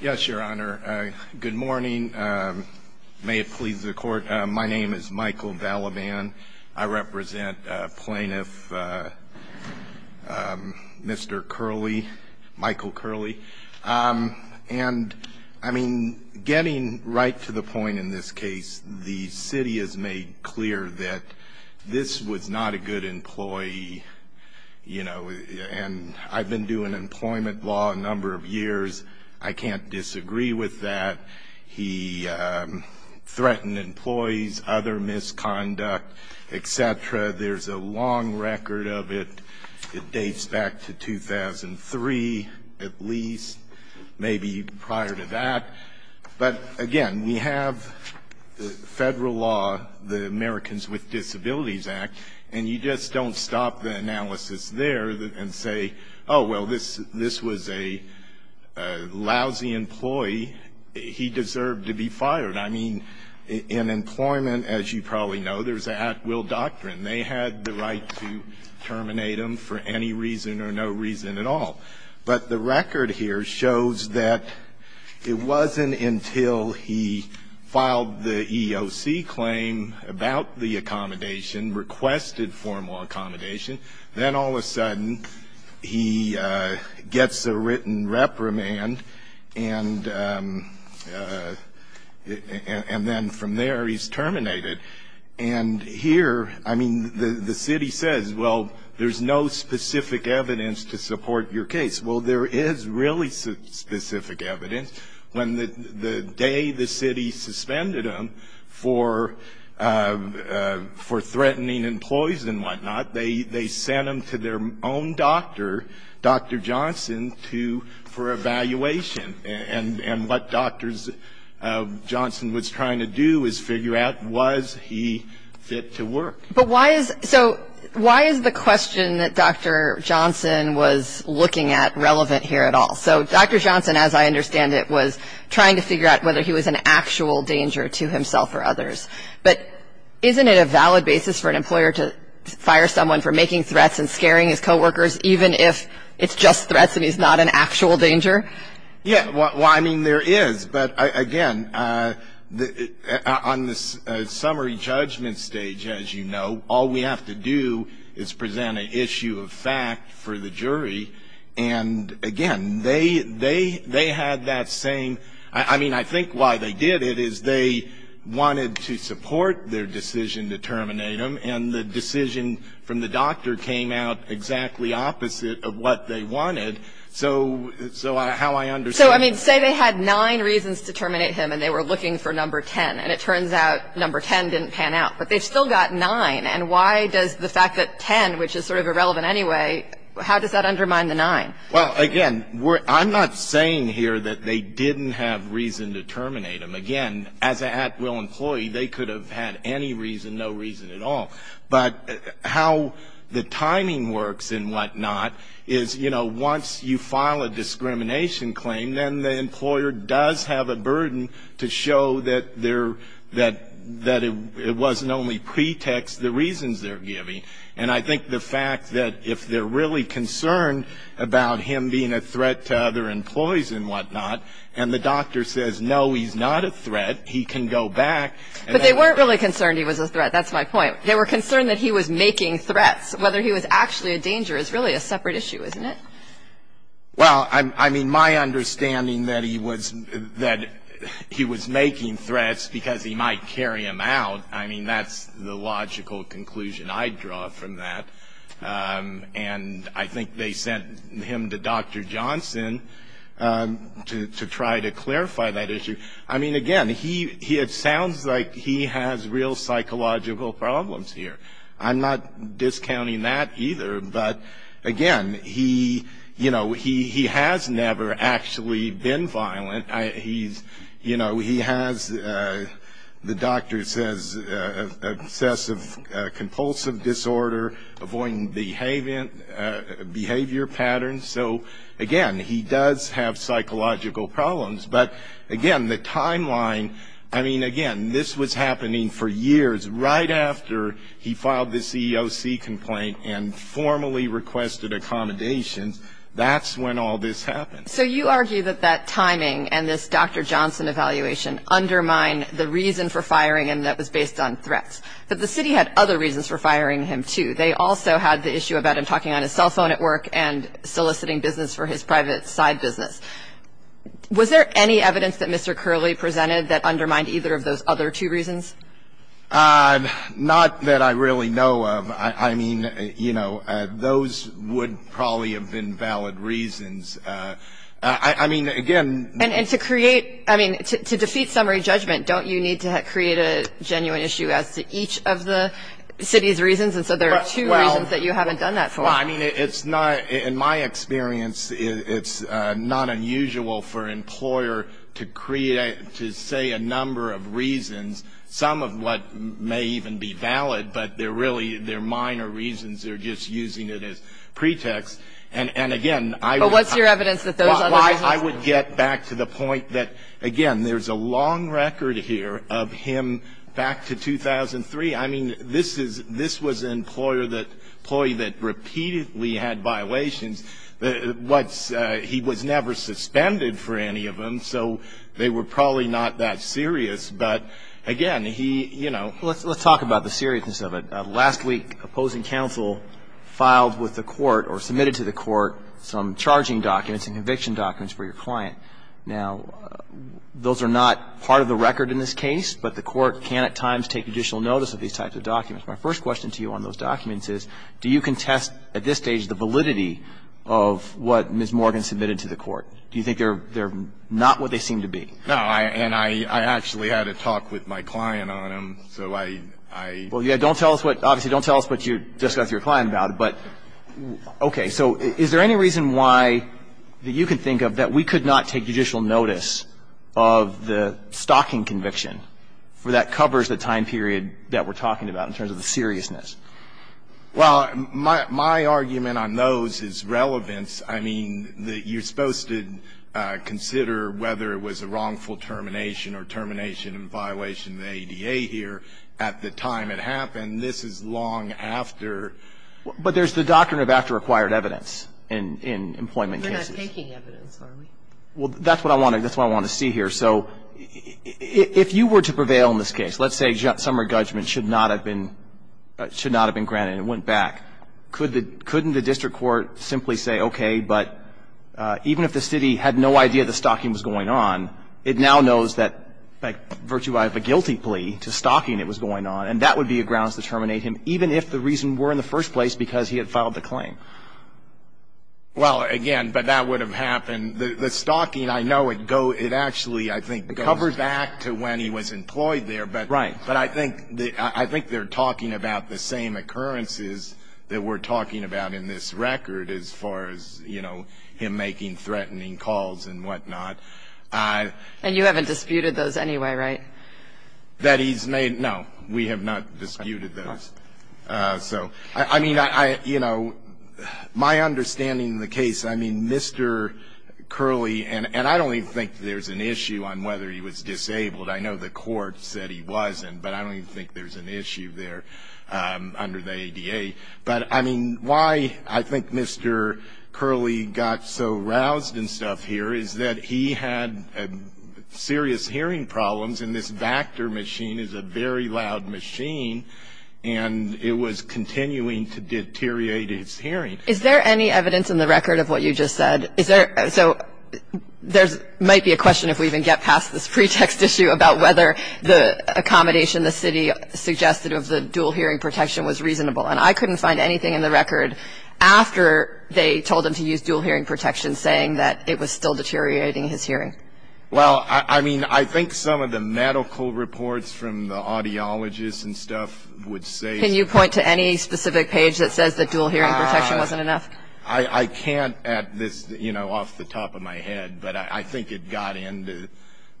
yes your honor good morning may it please the court my name is Michael Balaban I represent plaintiff mr. Curley Michael Curley and I mean getting right to the point in this case the city has made clear that this was not a good employee you know and I've been doing employment law a number of years I can't disagree with that he threatened employees other misconduct etc there's a long record of it dates back to 2003 at least maybe prior to that but again we the Americans with Disabilities Act and you just don't stop the analysis there and say oh well this this was a lousy employee he deserved to be fired I mean in employment as you probably know there's a will doctrine they had the right to terminate him for any reason or no reason at all but the record here shows that it wasn't until he filed the EEOC claim about the accommodation requested formal accommodation then all of a sudden he gets a written reprimand and and then from there he's terminated and here I mean the city says well there's no specific evidence to support your case well there is really specific evidence when the day the city suspended him for for threatening employees and whatnot they they sent him to their own doctor dr. Johnson to for evaluation and and what doctors Johnson was trying to do is figure out was he fit to work but why is so why is the question that dr. Johnson was looking at relevant here at all so dr. Johnson as I understand it was trying to figure out whether he was an actual danger to himself or others but isn't it a valid basis for an employer to fire someone for making threats and scaring his co-workers even if it's just threats and he's not an actual danger yeah well I mean there is but again on this summary judgment stage as you know all we have to do is present an issue of fact for the jury and again they they they had that same I mean I think why they did it is they wanted to support their decision to terminate him and the decision from the doctor came out exactly opposite of what they wanted so so I how I understand so I mean say they had nine reasons to terminate him and they were looking for number 10 and it turns out number 10 didn't pan out but they've still got nine and why does the fact that 10 which is sort of irrelevant anyway how does that undermine the nine well again we're I'm not saying here that they didn't have reason to terminate him again as a at-will employee they could have had any reason no reason at all but how the timing works and whatnot is you know once you file a discrimination claim then the employer does have a burden to show that there that that it wasn't only pretext the reasons they're giving and I think the fact that if they're really concerned about him being a threat to other employees and whatnot and the doctor says no he's not a threat he can go back but they weren't really concerned he was a threat that's my point they were concerned that he was making threats whether he was actually a danger is really a separate issue isn't it well I mean my understanding that he was that he was making threats because he might carry him out I mean that's the logical conclusion I draw from that and I think they sent him to dr. Johnson to try to clarify that issue I mean again he it sounds like he has real psychological problems here I'm not discounting that either but again he you know he he has never actually been violent I he's you know he has the doctor says obsessive-compulsive disorder avoiding behavior behavior patterns so again he does have psychological problems but again the happening for years right after he filed the CEO C complaint and formally requested accommodations that's when all this happened so you argue that that timing and this dr. Johnson evaluation undermine the reason for firing and that was based on threats but the city had other reasons for firing him too they also had the issue about him talking on his cell phone at work and soliciting business for his private side business was there any evidence that mr. Curley presented that undermined either of those other two reasons not that I really know of I mean you know those would probably have been valid reasons I mean again and to create I mean to defeat summary judgment don't you need to create a genuine issue as to each of the city's reasons and so there are two reasons that you haven't done that for I mean it's not in my experience it's not unusual for employer to create to say a number of reasons some of what may even be valid but they're really they're minor reasons they're just using it as pretext and and again I what's your evidence that those I would get back to the point that again there's a long record here of him back to 2003 I mean this is this was an employer that employee that repeatedly had violations what he was never suspended for any of them so they were probably not that serious but again he you know let's let's talk about the seriousness of it last week opposing counsel filed with the court or submitted to the court some charging documents and conviction documents for your client now those are not part of the record in this case but the court can at times take additional notice of these types of documents my first question to you on those documents is do you can test at this stage the validity of what Miss Morgan submitted to the court do you think they're they're not what they seem to be no I and I actually had a talk with my client on him so I well yeah don't tell us what obviously don't tell us what you discuss your client about it but okay so is there any reason why that you can think of that we could not take judicial notice of the well my my argument on those is relevance I mean that you're supposed to consider whether it was a wrongful termination or termination and violation the ADA here at the time it happened this is long after but there's the doctrine of after acquired evidence in in employment cases well that's what I want to that's what I want to see here so if you were to prevail in this case let's say some more judgment should not have been should not have been granted it went back could the couldn't the district court simply say okay but even if the city had no idea the stockings going on it now knows that by virtue I have a guilty plea to stocking it was going on and that would be a grounds to terminate him even if the reason were in the first place because he had filed the claim well again but that would have happened the stocking I know it go it actually I don't remember back to when he was employed there but right but I think the I think they're talking about the same occurrences that we're talking about in this record as far as you know him making threatening calls and whatnot I and you haven't disputed those anyway right that he's made no we have not disputed those so I mean I you know my understanding the case I mean Mr. Curley and and I don't even think there's an issue on whether he was disabled I know the court said he wasn't but I don't even think there's an issue there under the ADA but I mean why I think Mr. Curley got so roused and stuff here is that he had a serious hearing problems and this Vactor machine is a very loud machine and it was continuing to deteriorate its hearing is there any evidence in the record of what you just said is there so might be a question if we even get past this pretext issue about whether the accommodation the city suggested of the dual hearing protection was reasonable and I couldn't find anything in the record after they told him to use dual hearing protection saying that it was still deteriorating his hearing well I mean I think some of the medical reports from the audiologist and stuff would say can you point to any specific page that says that dual hearing protection wasn't enough I can't at this you know off the top of my head but I think it got into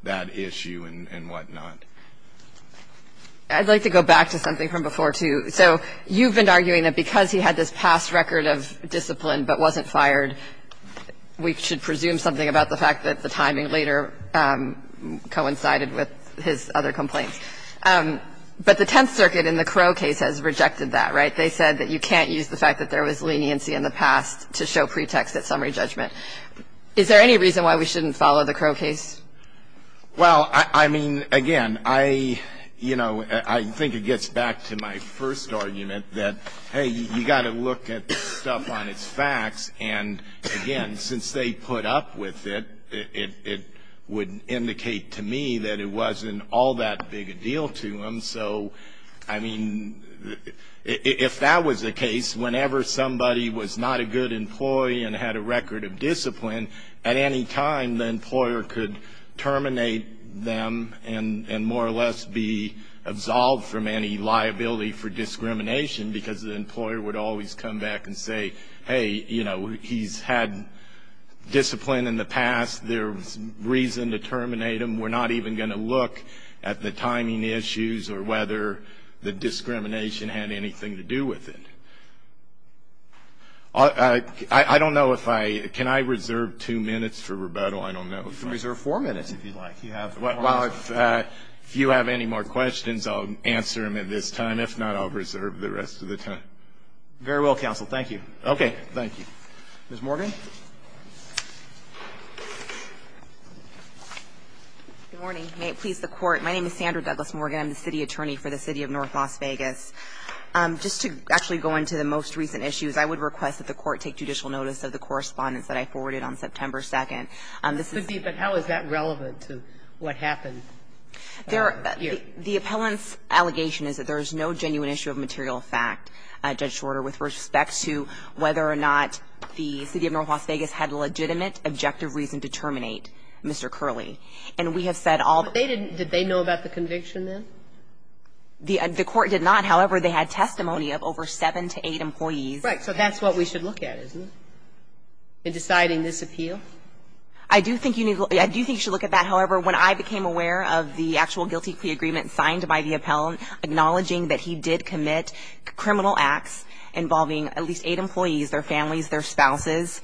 that issue and whatnot I'd like to go back to something from before too so you've been arguing that because he had this past record of discipline but wasn't fired we should presume something about the fact that the timing later coincided with his other complaints but the leniency in the past to show pretext that summary judgment is there any reason why we shouldn't follow the crow case well I mean again I you know I think it gets back to my first argument that hey you got to look at stuff on its facts and again since they put up with it it would indicate to me that it wasn't all that big a deal to him so I mean if that was the case whenever somebody was not a good employee and had a record of discipline at any time the employer could terminate them and more or less be absolved from any liability for discrimination because the employer would always come back and say hey you know he's had discipline in the past there was no reason to terminate him we're not even going to look at the timing issues or whether the discrimination had anything to do with it I don't know if I can I reserve two minutes for rebuttal I don't know if you can reserve four minutes if you'd like you have well if you have any more questions I'll answer them at this time if not I'll reserve the rest of the time very well counsel thank you okay thank you Ms. Morgan good morning may it please the court my name is Sandra Douglas Morgan I'm the city attorney for the city of North Las Vegas just to actually go into the most recent issues I would request that the court take judicial notice of the correspondence that I forwarded on September 2nd but how is that relevant to what happened there the appellant's allegation is that there is no genuine issue of material fact Judge Shorter with respect to whether or not the city of North Las Vegas had a legitimate objective reason to terminate Mr. Curley and we have said all they didn't did they know about the conviction then the court did not however they had testimony of over seven to eight employees right so that's what we should look at isn't it in deciding this appeal I do think you need I do think you should look at that however when I became aware of the actual guilty plea agreement signed by the appellant acknowledging that he did commit criminal acts involving at least eight employees their families their spouses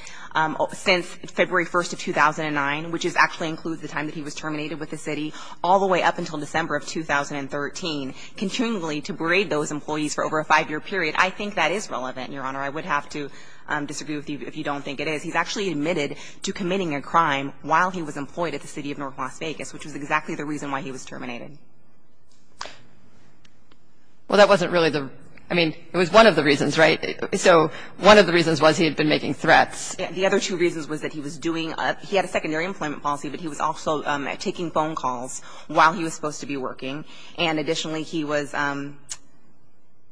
since February 1st of 2009 which is actually includes the time that he was terminated with the city all the way up until December of 2013 continually to braid those employees for over a five-year period I think that is relevant your honor I would have to disagree with you if you don't think it is he's actually admitted to committing a crime while he was terminated well that wasn't really the I mean it was one of the reasons right so one of the reasons was he had been making threats the other two reasons was that he was doing he had a secondary employment policy but he was also taking phone calls while he was supposed to be working and additionally he was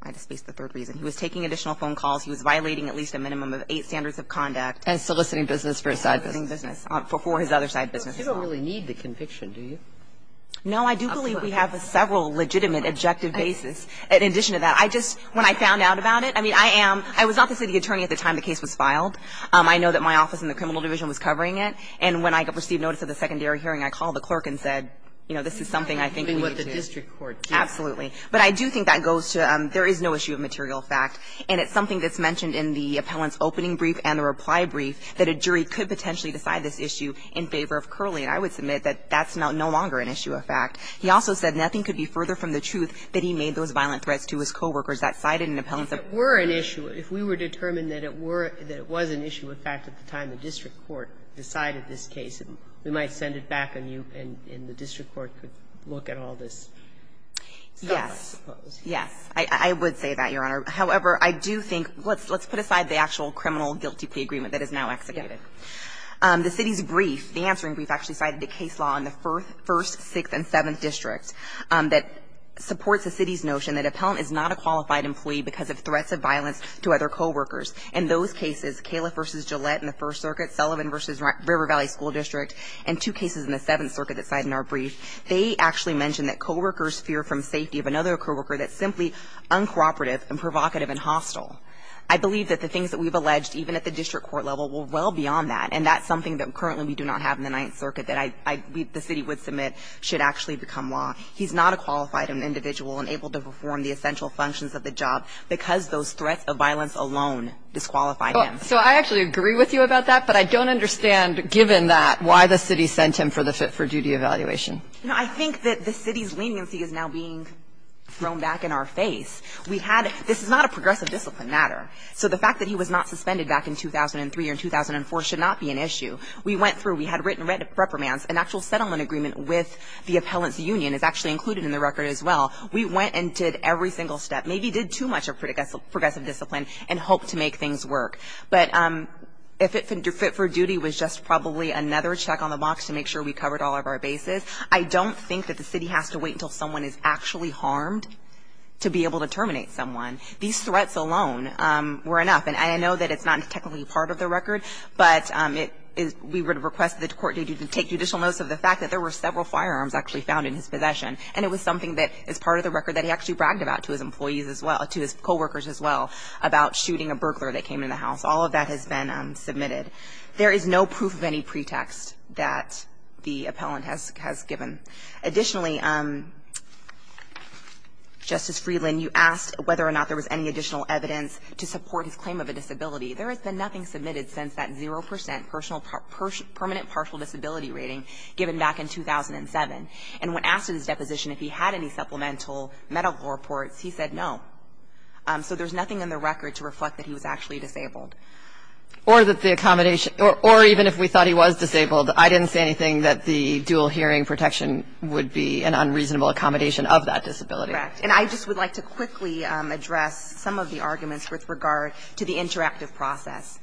I just faced the third reason he was taking additional phone calls he was violating at least a minimum of eight standards of conduct and soliciting business for his other side business you don't really need the conviction do you know I do believe we have a several legitimate objective basis in addition to that I just when I found out about it I mean I am I was not the city attorney at the time the case was filed I know that my office in the criminal division was covering it and when I received notice of the secondary hearing I called the clerk and said you know this is something I think absolutely but I do think that goes to there is no issue of material fact and it's something that's mentioned in the appellant's opening brief and the reply brief that a jury could potentially decide this issue in favor of curly I would submit that that's not no longer an issue of fact he also said nothing could be further from the truth that he made those violent threats to his co-workers that cited an appellant that were an issue if we were determined that it were that it was an issue of fact at the time the district court decided this case we might send it back and you and in the district court could look at all this yes yes I would say that your honor however I do think let's let's put aside the actual criminal guilty plea agreement that is now executed the city's brief the answering brief actually cited a case law on the first first sixth and seventh district that supports the city's notion that appellant is not a qualified employee because of threats of violence to other co-workers and those cases Kayla vs. Gillette in the First Circuit Sullivan vs. River Valley School District and two cases in the Seventh Circuit that side in our brief they actually mentioned that co-workers fear from safety of another co-worker that's simply uncooperative and provocative and hostile I believe that the things that we've alleged even at the district court level will well beyond that and that's something that currently we do not have in the Ninth Circuit that I the city would submit should actually become law he's not a qualified an individual and able to perform the essential functions of the job because those threats of violence alone disqualify him so I actually agree with you about that but I don't understand given that why the city sent him for the fit-for-duty evaluation I think that the city's leniency is now being thrown back in our face we had this is not a progressive discipline matter so the fact that he was not suspended back in 2003 or 2004 should not be an issue we went through we had written reprimands an actual settlement agreement with the appellants union is actually included in the record as well we went and did every single step maybe did too much of and hope to make things work but if it fit for duty was just probably another check on the box to make sure we covered all of our bases I don't think that the city has to wait until someone is actually harmed to be able to terminate someone these threats alone were enough and I know that it's not technically part of the record but it is we would request the court to take additional notes of the fact that there were several firearms actually found in the house and that there is no proof of any pretext that the appellant has given additionally justice Freeland you asked whether or not there was any additional evidence to support his claim of a disability there has been nothing submitted since that 0% personal permanent partial disability rating given back in 2007 and when asked his deposition if he had any supplemental medical reports he said no so there's nothing in the record to reflect that he was actually disabled or that the accommodation or even if we thought he was disabled I didn't say anything that the dual hearing protection would be an unreasonable accommodation of that disability and I just would like to quickly address some of the arguments with regard to the interactive process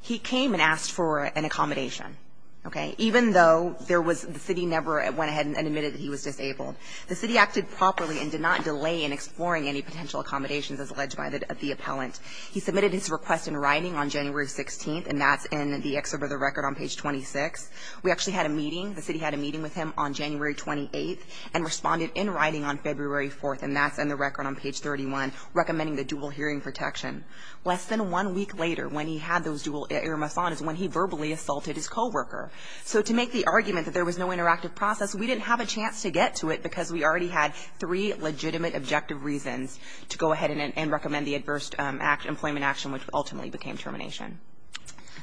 he came and asked for an accommodation okay even though there was the city never went ahead and admitted that he was disabled the city acted properly and did not delay in exploring any potential accommodations as alleged by the appellant he submitted his request in writing on January 16th and that's in the excerpt of the record on page 26 we actually had a meeting the city had a meeting with him on January 28th and responded in writing on February 4th and that's in the record on page 31 recommending the dual hearing protection less than one week later when he had those dual earmuffs on is when he verbally assaulted his co-worker so to make the argument that there was no interactive process we didn't have a chance to get to it because we already had three legitimate objective reasons to go ahead and recommend the adverse act employment action which ultimately became termination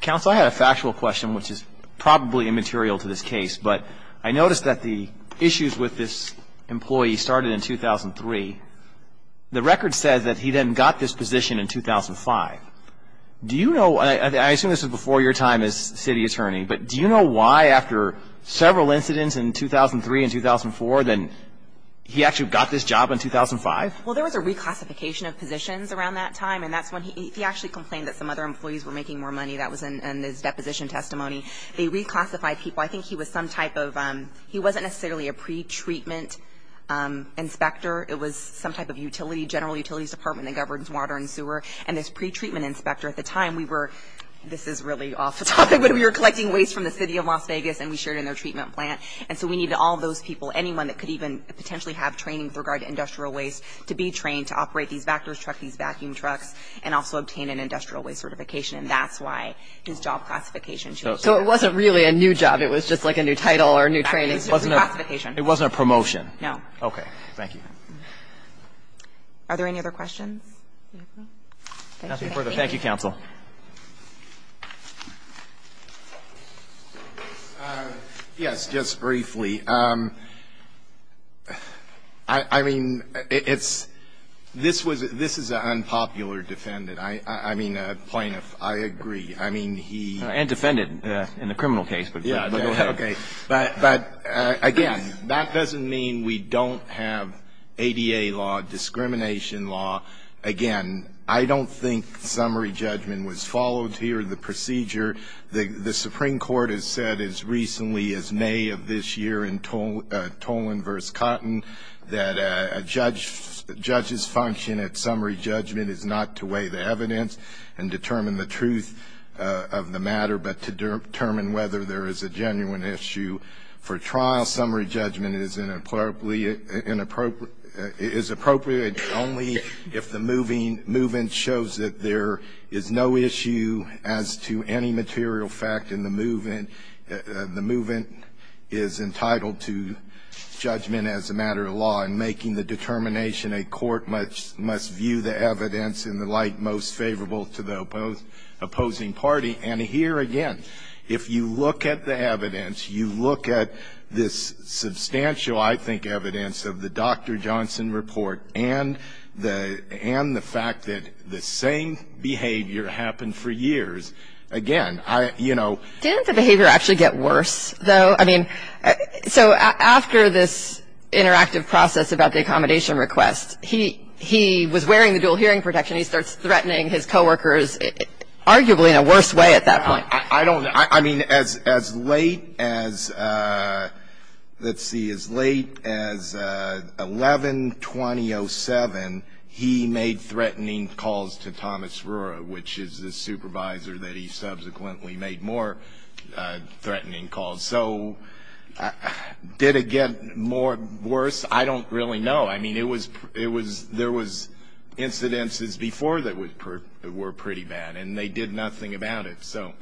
council I had a factual question which is probably immaterial to this case but I noticed that the issues with this employee started in 2003 the record says that he then got this position in 2005 do you know I assume this is before your time as city attorney but do you know why after several incidents in 2003 and 2004 then he actually got this job in 2005 well there was a reclassification of positions around that time and that's when he actually complained that some other employees were making more money that was in his deposition testimony they reclassified people I think he was some type of he wasn't necessarily a pretreatment inspector it was some type of utility general utilities department that was really off the topic when we were collecting waste from the city of Las Vegas and we shared in their treatment plant and so we needed all those people anyone that could even potentially have training with regard to industrial waste to be trained to operate these backers truck these vacuum trucks and also obtain an industrial waste certification and that's why his job classification so it wasn't really a new job it was just like a new title or new training it wasn't a promotion no okay thank you are there any other questions thank you counsel yes just briefly I mean it's this was this is an unpopular defendant I I mean a plaintiff I agree I mean he and defended in the criminal case but yeah okay but but again that doesn't mean we don't have ADA law discrimination law again I don't think summary judgment was followed here the procedure the the Supreme Court has said as recently as May of this year in toll toll inverse cotton that a judge judges function at summary judgment is not to weigh the evidence and determine the truth of the matter but to determine whether there is a genuine issue for trial summary judgment is inappropriately is appropriate only if the moving movement shows that there is no issue as to any material fact in the movement the movement is entitled to judgment as a matter of law and making the determination a court much must view the evidence in the light most favorable to the opposed opposing party and here again if you look at the evidence you look at this substantial I think the evidence of the dr. Johnson report and the and the fact that the same behavior happened for years again I you know didn't the behavior actually get worse though I mean so after this interactive process about the accommodation request he he was wearing the dual hearing protection he starts threatening his co-workers arguably in a worse way at that point I don't know I mean it was it was there was incidences before that were pretty bad and they did nothing about it so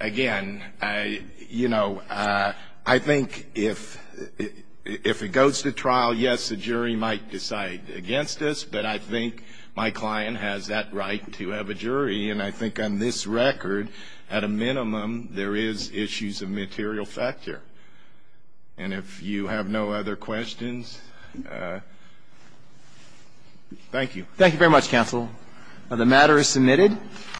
again I you know I think if if it goes to trial yes the jury might decide against us but I think my client has that right to have a jury and I think on this record at a minimum there is issues of material factor and if you have no other questions thank you thank you very much counsel the matter is submitted